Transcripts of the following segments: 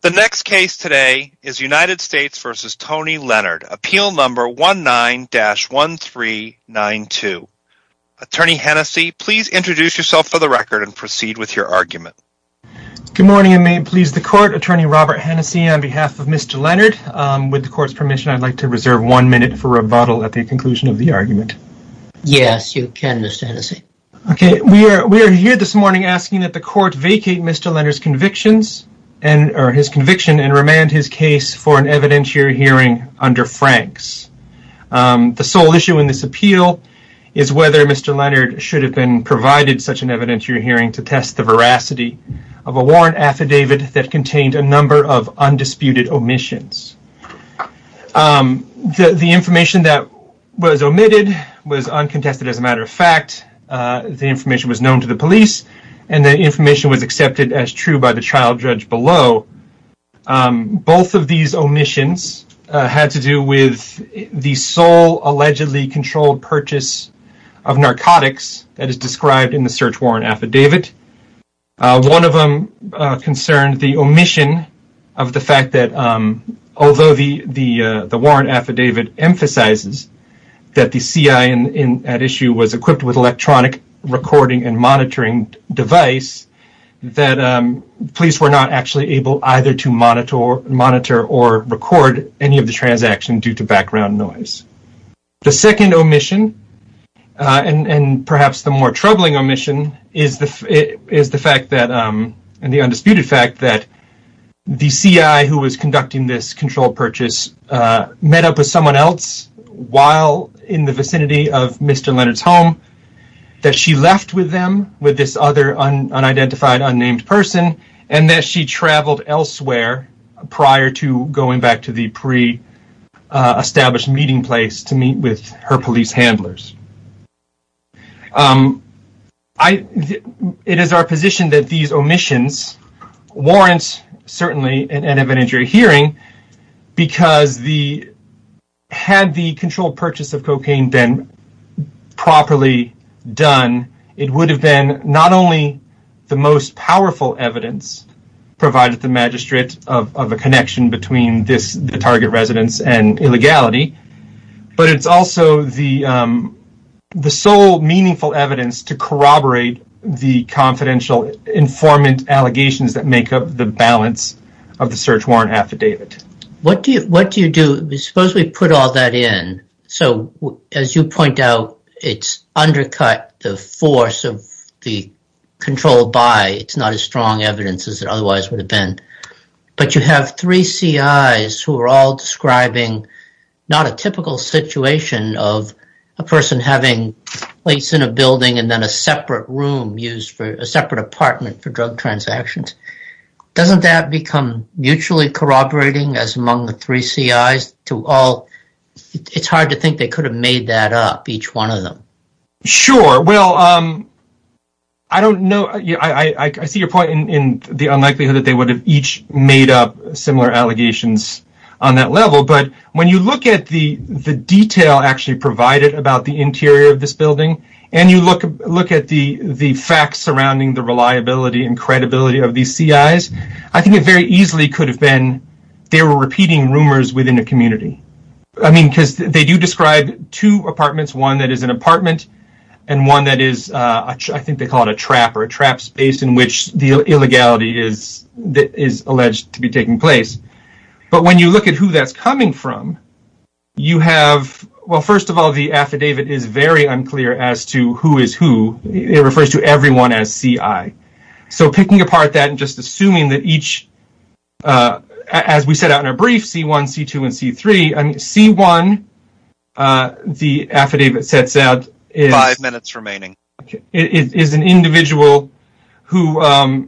The next case today is United States v. Tony Leonard, appeal number 19-1392. Attorney Hennessey, please introduce yourself for the record and proceed with your argument. Good morning and may it please the Court, Attorney Robert Hennessey on behalf of Mr. Leonard. With the Court's permission, I'd like to reserve one minute for rebuttal at the conclusion of the argument. Yes, you can, Mr. Hennessey. Okay, we are here this morning asking that the Court vacate Mr. Leonard's convictions or his conviction and remand his case for an evidentiary hearing under Franks. The sole issue in this appeal is whether Mr. Leonard should have been provided such an evidentiary hearing to test the veracity of a warrant affidavit that contained a number of undisputed omissions. The information that was omitted was uncontested as a matter of fact. The information was known to the police and the information was accepted as true by the trial judge below. Both of these omissions had to do with the sole allegedly controlled purchase of narcotics that is described in the search warrant affidavit. One of them concerned the omission of the fact that although the warrant affidavit emphasizes that the C.I. at issue was equipped with electronic recording and monitoring device, that police were not actually able either to monitor or record any of the transaction due to background noise. The second omission and perhaps the more troubling omission is the fact that, and the undisputed fact that the C.I. who was conducting this controlled purchase met up with someone else while in the vicinity of Mr. Leonard's home, that she left with them, with this other unidentified unnamed person, and that she traveled elsewhere prior to going back to the pre-established meeting place to meet with her police handlers. It is our position that these omissions warrant certainly an evidentiary hearing because had the controlled purchase of cocaine been properly done, it would have been not only the most powerful evidence provided the magistrate of a connection between the target residence and illegality, but it's also the sole meaningful evidence to corroborate the confidential informant allegations that make up the balance of the search warrant affidavit. What do you do? Suppose we put all that in. So as you point out, it's undercut the force of the controlled buy. It's not as strong evidence as it otherwise would have been. But you have three C.I.s who are all describing not a typical situation of a person having place in a building and then a separate room used for a separate apartment for drug transactions. Doesn't that become mutually corroborating as among the three C.I.s? It's hard to think they could have made that up, each one of them. I see your point in the unlikely that they would have each made up similar allegations on that level, but when you look at the detail actually provided about the interior of this building and you look at the facts surrounding the reliability and credibility of these C.I.s, I think it very easily could have been they were repeating rumors within a community. I mean, because they do describe two apartments, one that is an apartment and one that is, I think they call it a trap or a trap space in which the illegality is alleged to be taking place. But when you look at who that's coming from, you have, well, first of all, the affidavit is very unclear as to who is who. It refers to everyone as C.I. So picking apart that and just assuming that each, as we set out in our brief, C.1, C.2, and C.3, C.1, the affidavit sets out is an individual who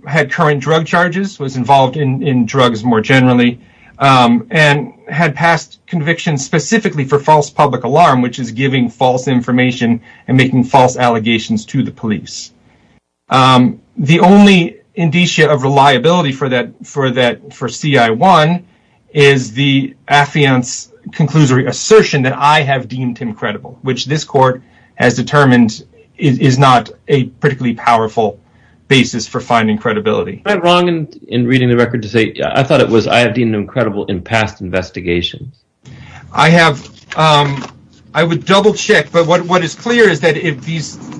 had current drug charges, was involved in drugs more generally, and had passed convictions specifically for false public alarm, which is giving false information and making false allegations to the police. The only indicia of reliability for C.I.1 is the affiant's conclusion or assertion that I have deemed him credible, which this court has determined is not a particularly powerful basis for finding credibility. Am I wrong in reading the record to say I thought it was I have deemed him credible in past investigations? I have, I would double check. But what is clear is that if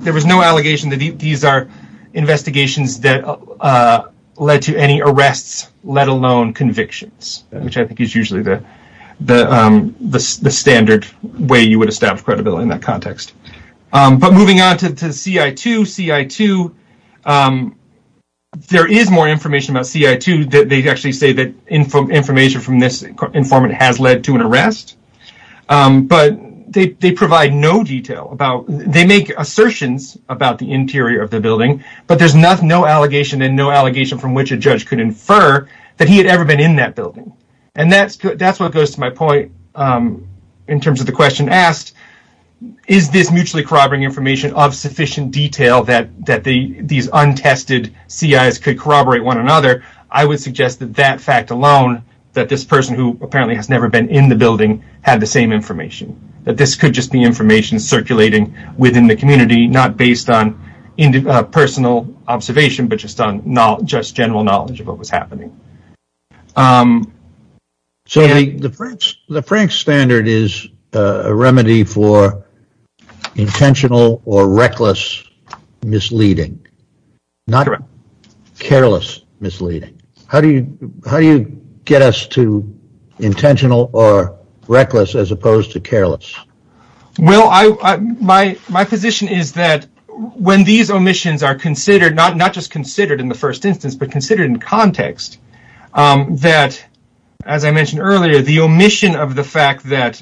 there was no allegation that these are investigations that led to any arrests, let alone convictions, which I think is usually the standard way you would establish credibility in that context. But moving on to C.I.2, C.I.2, there is more information about C.I.2. They actually say that information from this informant has led to an arrest. But they provide no detail about, they make assertions about the interior of the building, but there's no allegation and no allegation from which a judge could infer that he had ever been in that building. And that's what goes to my point in terms of the question asked, is this mutually corroborating information of sufficient detail that these untested C.I.s could corroborate one another? I would suggest that that fact alone, that this person who apparently has never been in the building, had the same information. That this could just be information circulating within the community, not based on personal observation, but just general knowledge of what was happening. So the Franks standard is a remedy for intentional or reckless misleading, not careless misleading. How do you get us to intentional or reckless as opposed to careless? Well, my position is that when these omissions are considered, not just considered in the first instance, but considered in context, that as I mentioned earlier, the omission of the fact that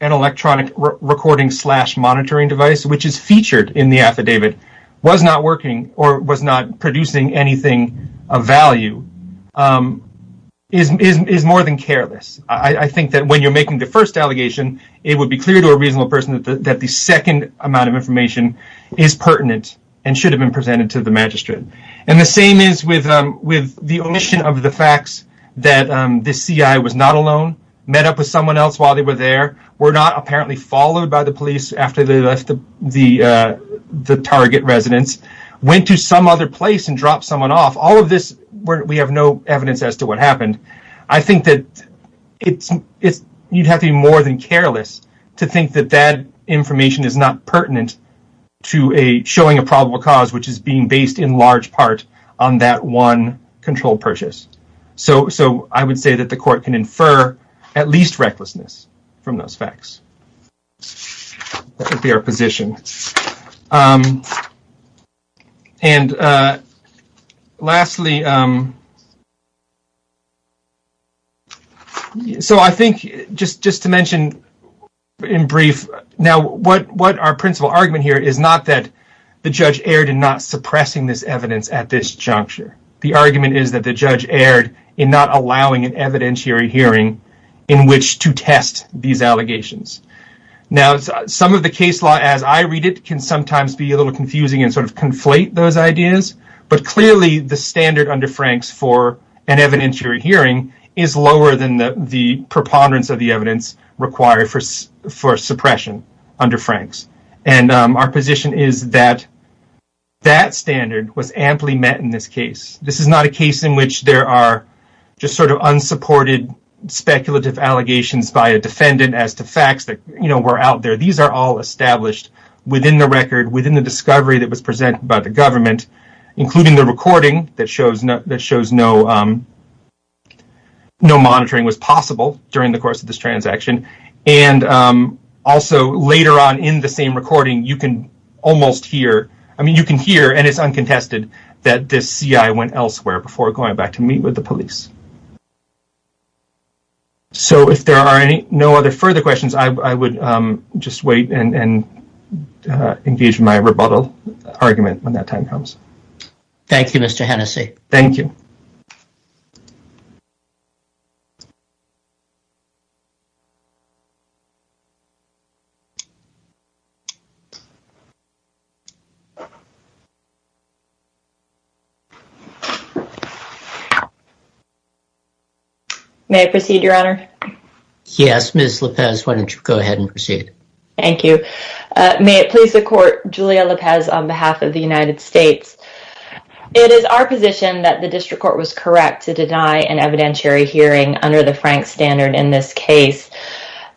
an electronic recording slash monitoring device, which is featured in the affidavit, was not working or was not producing anything of value is more than careless. I think that when you're making the first allegation, it would be clear to a reasonable person that the second amount of information is pertinent and should have been presented to the magistrate. And the same is with the omission of the facts that this C.I. was not alone, met up with someone else while they were there, were not apparently followed by the police after they left the target residence, went to some other place and dropped someone off. All of this, we have no evidence as to what happened. I think that you'd have to be more than careless to think that that information is not pertinent to showing a probable cause, which is being based in large part on that one controlled purchase. So I would say that the court can infer at least recklessness from those facts. That would be our position. And lastly. So I think just just to mention in brief now what what our principal argument here is not that the judge erred in not suppressing this evidence at this juncture. The argument is that the judge erred in not allowing an evidentiary hearing in which to test these allegations. Now, some of the case law, as I read it, can sometimes be a little confusing and sort of conflate those ideas. But clearly, the standard under Frank's for an evidentiary hearing is lower than the preponderance of the evidence required for for suppression under Frank's. And our position is that that standard was amply met in this case. This is not a case in which there are just sort of unsupported speculative allegations by a defendant as to facts that were out there. These are all established within the record, within the discovery that was presented by the government, including the recording that shows that shows no no monitoring was possible during the course of this transaction. And also later on in the same recording, you can almost hear I mean, you can hear and it's uncontested that this CI went elsewhere before going back to meet with the police. So if there are any no other further questions, I would just wait and engage my rebuttal argument when that time comes. Thank you, Mr. Hennessy. Thank you. May I proceed, Your Honor? Yes, Miss Lopez. Why don't you go ahead and proceed? Thank you. May it please the court. Julia Lopez on behalf of the United States. It is our position that the district court was correct to deny an evidentiary hearing under the Frank standard in this case.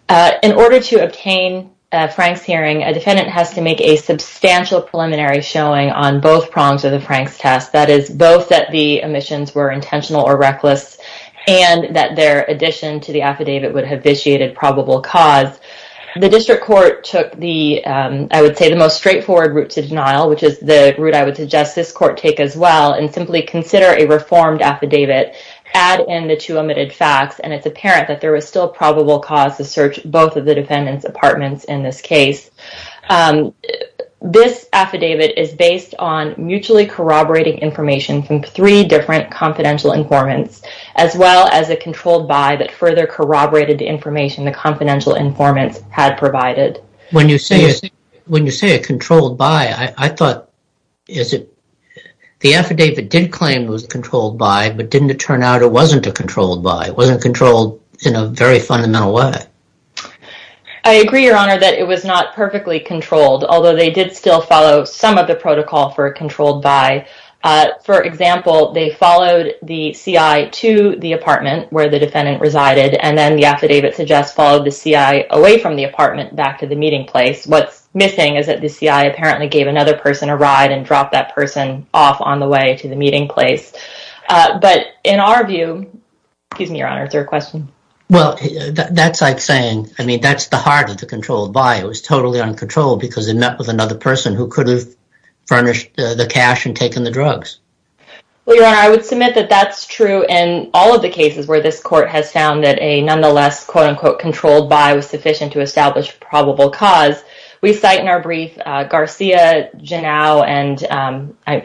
In order to obtain Frank's hearing, a defendant has to make a substantial preliminary showing on both prongs of the Frank's test. That is both that the omissions were intentional or reckless and that their addition to the affidavit would have initiated probable cause. The district court took the, I would say, the most straightforward route to denial, which is the route I would suggest this court take as well, and simply consider a reformed affidavit, add in the two omitted facts, and it's apparent that there was still probable cause to search both of the defendant's apartments in this case. This affidavit is based on mutually corroborating information from three different confidential informants, as well as a controlled by that further corroborated information the confidential informants had provided. When you say, when you say a controlled by, I thought, is it the affidavit did claim was controlled by, but didn't it turn out it wasn't a controlled by? It wasn't controlled in a very fundamental way. I agree, Your Honor, that it was not perfectly controlled, although they did still follow some of the protocol for a controlled by. For example, they followed the CI to the apartment where the defendant resided, and then the affidavit suggests followed the CI away from the apartment back to the meeting place. What's missing is that the CI apparently gave another person a ride and dropped that person off on the way to the meeting place. But in our view, excuse me, Your Honor, is there a question? Well, that's like saying, I mean, that's the heart of the controlled by. It was totally uncontrolled because it met with another person who could have furnished the cash and taken the drugs. Well, Your Honor, I would submit that that's true in all of the cases where this court has found that a nonetheless, quote unquote, controlled by was sufficient to establish probable cause. We cite in our brief Garcia, Janow, and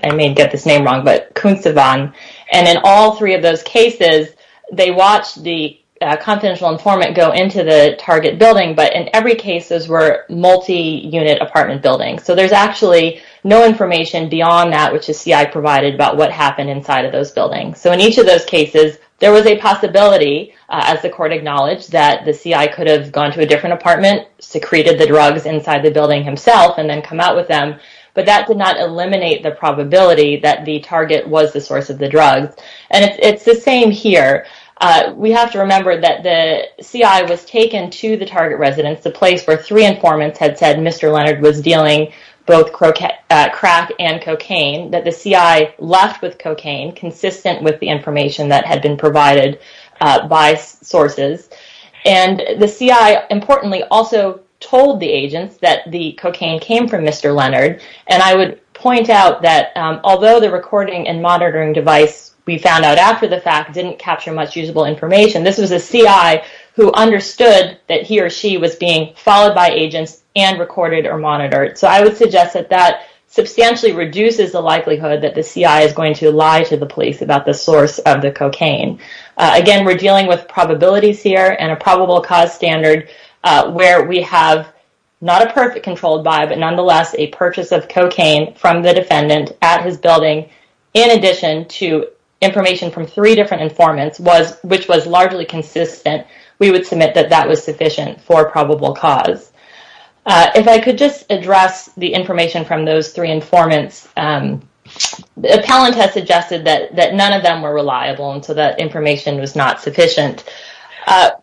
I may get this name wrong, but Kuntzivan. And in all three of those cases, they watched the confidential informant go into the target building. But in every case, those were multi-unit apartment buildings. So there's actually no information beyond that, which the CI provided, about what happened inside of those buildings. So in each of those cases, there was a possibility, as the court acknowledged, that the CI could have gone to a different apartment, secreted the drugs inside the building himself, and then come out with them. But that did not eliminate the probability that the target was the source of the drugs. And it's the same here. We have to remember that the CI was taken to the target residence, the place where three informants had said Mr. Leonard was dealing both crack and cocaine, that the CI left with cocaine consistent with the information that had been provided by sources. And the CI, importantly, also told the agents that the cocaine came from Mr. Leonard. And I would point out that although the recording and monitoring device we found out after the fact didn't capture much usable information, this was a CI who understood that he or she was being followed by agents and recorded or monitored. So I would suggest that that substantially reduces the likelihood that the CI is going to lie to the police about the source of the cocaine. Again, we're dealing with probabilities here and a probable cause standard where we have not a perfect controlled buy, but nonetheless a purchase of cocaine from the defendant at his building, in addition to information from three different informants, which was largely consistent, we would submit that that was sufficient for probable cause. If I could just address the information from those three informants. The appellant has suggested that none of them were reliable and so that information was not sufficient.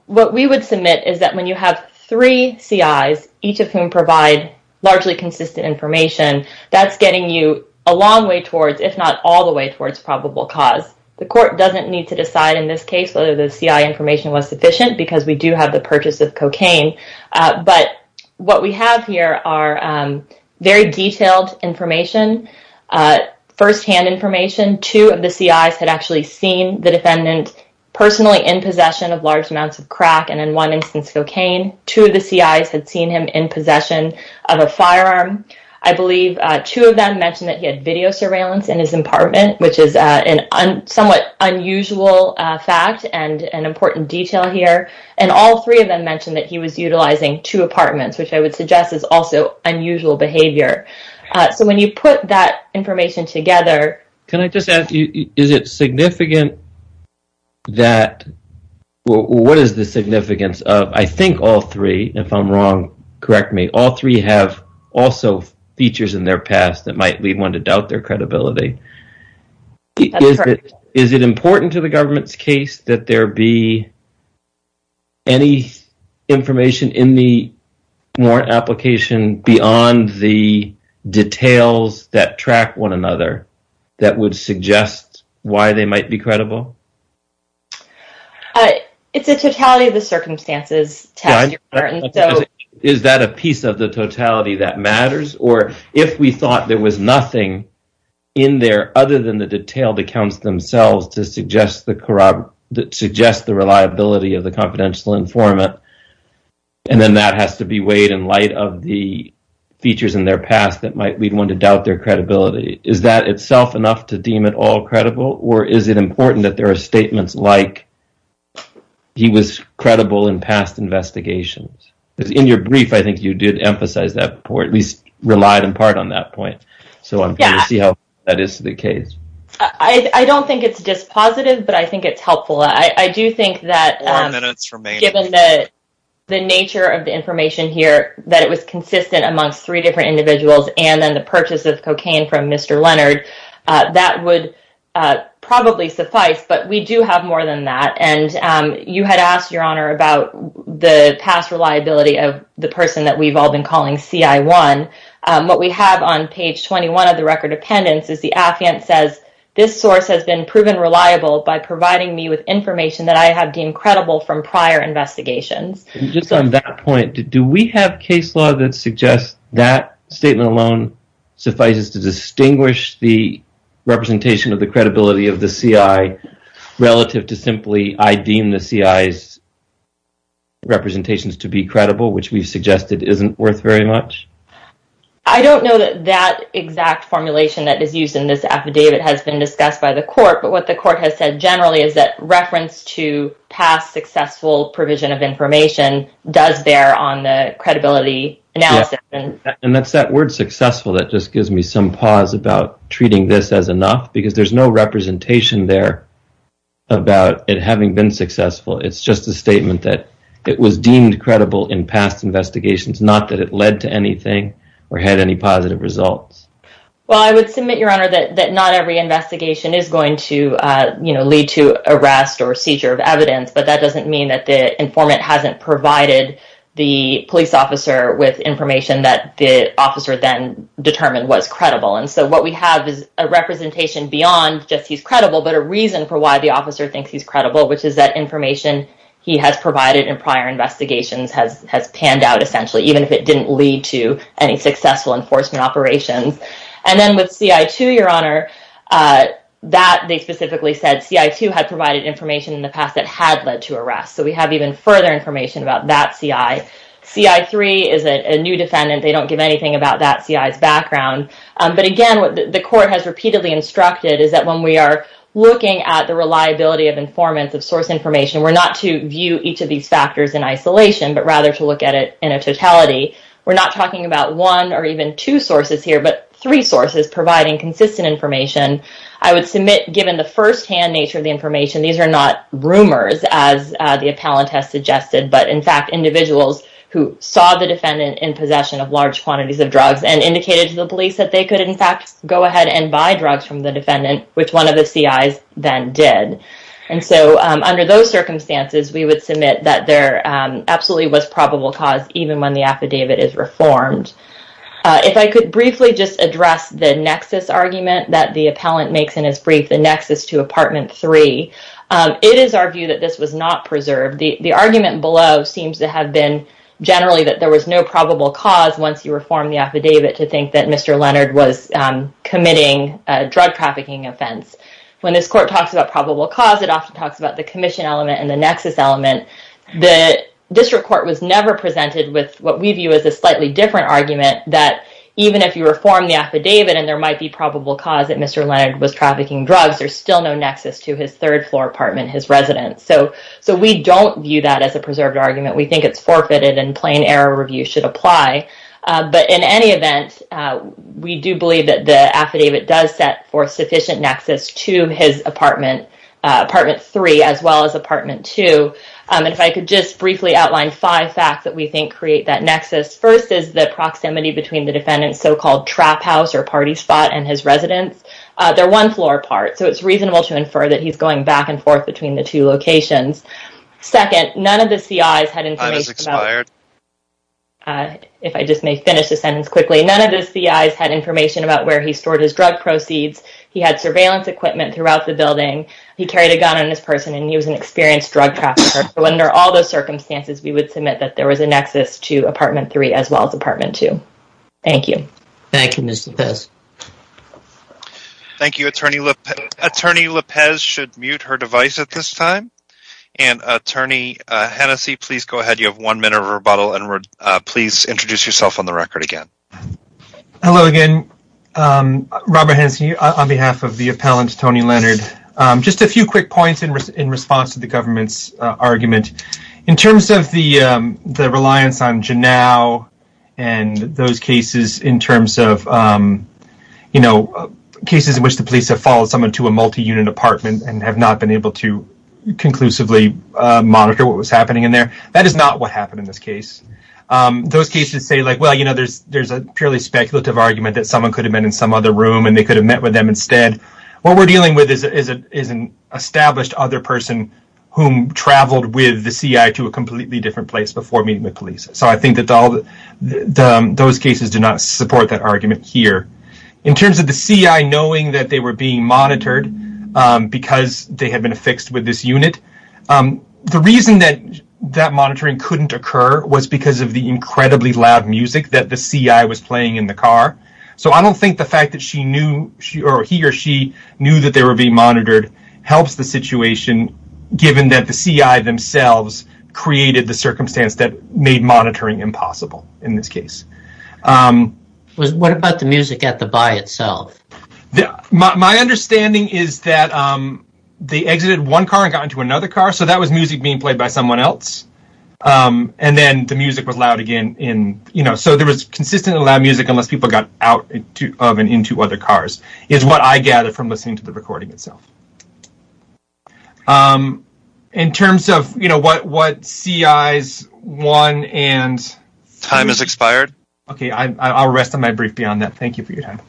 What we would submit is that when you have three CIs, each of whom provide largely consistent information, that's getting you a long way towards, if not all the way towards probable cause. The court doesn't need to decide in this case whether the CI information was sufficient because we do have the purchase of cocaine. But what we have here are very detailed information, firsthand information. Two of the CIs had actually seen the defendant personally in possession of large amounts of crack and in one instance cocaine. Two of the CIs had seen him in possession of a firearm. I believe two of them mentioned that he had video surveillance in his apartment, which is a somewhat unusual fact and an important detail here. And all three of them mentioned that he was utilizing two apartments, which I would suggest is also unusual behavior. So when you put that information together... Can I just ask you, is it significant that... What is the significance of... I think all three, if I'm wrong, correct me, all three have also features in their past that might lead one to doubt their credibility. That's correct. Is it important to the government's case that there be any information in the warrant application beyond the details that track one another that would suggest why they might be credible? It's a totality of the circumstances test, Your Honor. Is that a piece of the totality that matters? Or if we thought there was nothing in there other than the detailed accounts themselves to suggest the reliability of the confidential informant and then that has to be weighed in light of the features in their past that might lead one to doubt their credibility. Is that itself enough to deem it all credible? Or is it important that there are statements like he was credible in past investigations? Because in your brief, I think you did emphasize that, or at least relied in part on that point. So I'm curious to see how that is to the case. I don't think it's dispositive, but I think it's helpful. I do think that given the nature of the information here, that it was consistent amongst three different individuals and then the purchase of cocaine from Mr. Leonard, that would probably suffice. But we do have more than that. And you had asked, Your Honor, about the past reliability of the person that we've all been calling CI1. What we have on page 21 of the record of pendants is the affidavit says, this source has been proven reliable by providing me with information that I have deemed credible from prior investigations. Just on that point, do we have case law that suggests that statement alone suffices to distinguish the representation of the credibility of the CI relative to simply I deem the CI's representations to be credible, which we've suggested isn't worth very much? I don't know that that exact formulation that is used in this affidavit has been discussed by the court. But what the court has said generally is that reference to past successful provision of information does bear on the credibility analysis. And that's that word successful that just gives me some pause about treating this as enough, because there's no representation there about it having been successful. It's just a statement that it was deemed credible in past investigations, not that it led to anything or had any positive results. Well, I would submit, Your Honor, that not every investigation is going to lead to arrest or seizure of evidence. But that doesn't mean that the informant hasn't provided the police officer with information that the officer then determined was credible. And so what we have is a representation beyond just he's credible, but a reason for why the officer thinks he's credible, which is that information he has provided in prior investigations has panned out, essentially, even if it didn't lead to any successful enforcement operations. And then with CI2, Your Honor, that they specifically said CI2 had provided information in the past that had led to arrest. So we have even further information about that CI. CI3 is a new defendant. They don't give anything about that CI's background. But again, what the court has repeatedly instructed is that when we are looking at the reliability of informants of source information, we're not to view each of these factors in isolation, but rather to look at it in a totality. We're not talking about one or even two sources here, but three sources providing consistent information. I would submit, given the firsthand nature of the information, these are not rumors, as the appellant has suggested, but, in fact, individuals who saw the defendant in possession of large quantities of drugs and indicated to the police that they could, in fact, go ahead and buy drugs from the defendant, which one of the CIs then did. And so under those circumstances, we would submit that there absolutely was probable cause, even when the affidavit is reformed. If I could briefly just address the nexus argument that the appellant makes in his brief, the nexus to Apartment 3, it is our view that this was not preserved. The argument below seems to have been generally that there was no probable cause, once you reform the affidavit, to think that Mr. Leonard was committing a drug-trafficking offense. When this court talks about probable cause, it often talks about the commission element and the nexus element. The district court was never presented with what we view as a slightly different argument, that even if you reform the affidavit and there might be probable cause that Mr. Leonard was trafficking drugs, there's still no nexus to his third-floor apartment, his residence. So we don't view that as a preserved argument. We think it's forfeited and plain-error review should apply. But in any event, we do believe that the affidavit does set forth sufficient nexus to his apartment, Apartment 3, as well as Apartment 2. And if I could just briefly outline five facts that we think create that nexus. First is the proximity between the defendant's so-called trap house or party spot and his residence. They're one-floor apart, so it's reasonable to infer that he's going back and forth between the two locations. Second, none of the CIs had information about where he stored his drug proceeds. He had surveillance equipment throughout the building. He carried a gun on his person, and he was an experienced drug trafficker. So under all those circumstances, we would submit that there was a nexus to Apartment 3, as well as Apartment 2. Thank you. Thank you, Ms. Lopez. Thank you. Attorney Lopez should mute her device at this time. And, Attorney Hennessey, please go ahead. You have one minute of rebuttal, and please introduce yourself on the record again. Hello again. Robert Hennessey on behalf of the appellant, Tony Leonard. Just a few quick points in response to the government's argument. In terms of the reliance on Janow and those cases in terms of, you know, cases in which the police have followed someone to a multi-unit apartment and have not been able to conclusively monitor what was happening in there, that is not what happened in this case. Those cases say, like, well, you know, there's a purely speculative argument that someone could have been in some other room and they could have met with them instead. What we're dealing with is an established other person who traveled with the CI to a completely different place before meeting with police. So I think that those cases do not support that argument here. In terms of the CI knowing that they were being monitored because they had been affixed with this unit, the reason that that monitoring couldn't occur was because of the incredibly loud music that the CI was playing in the car. So I don't think the fact that he or she knew that they were being monitored helps the situation, given that the CI themselves created the circumstance that made monitoring impossible in this case. What about the music at the buy itself? My understanding is that they exited one car and got into another car, so that was music being played by someone else. And then the music was loud again. So there was consistently loud music unless people got out of and into other cars, is what I gather from listening to the recording itself. In terms of what CIs won and— Time has expired. Okay, I'll rest on my brief beyond that. Thank you for your time.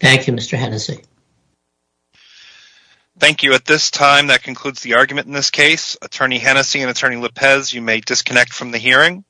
Thank you, Mr. Hennessey. Thank you. With this time, that concludes the argument in this case. Attorney Hennessey and Attorney López, you may disconnect from the hearing.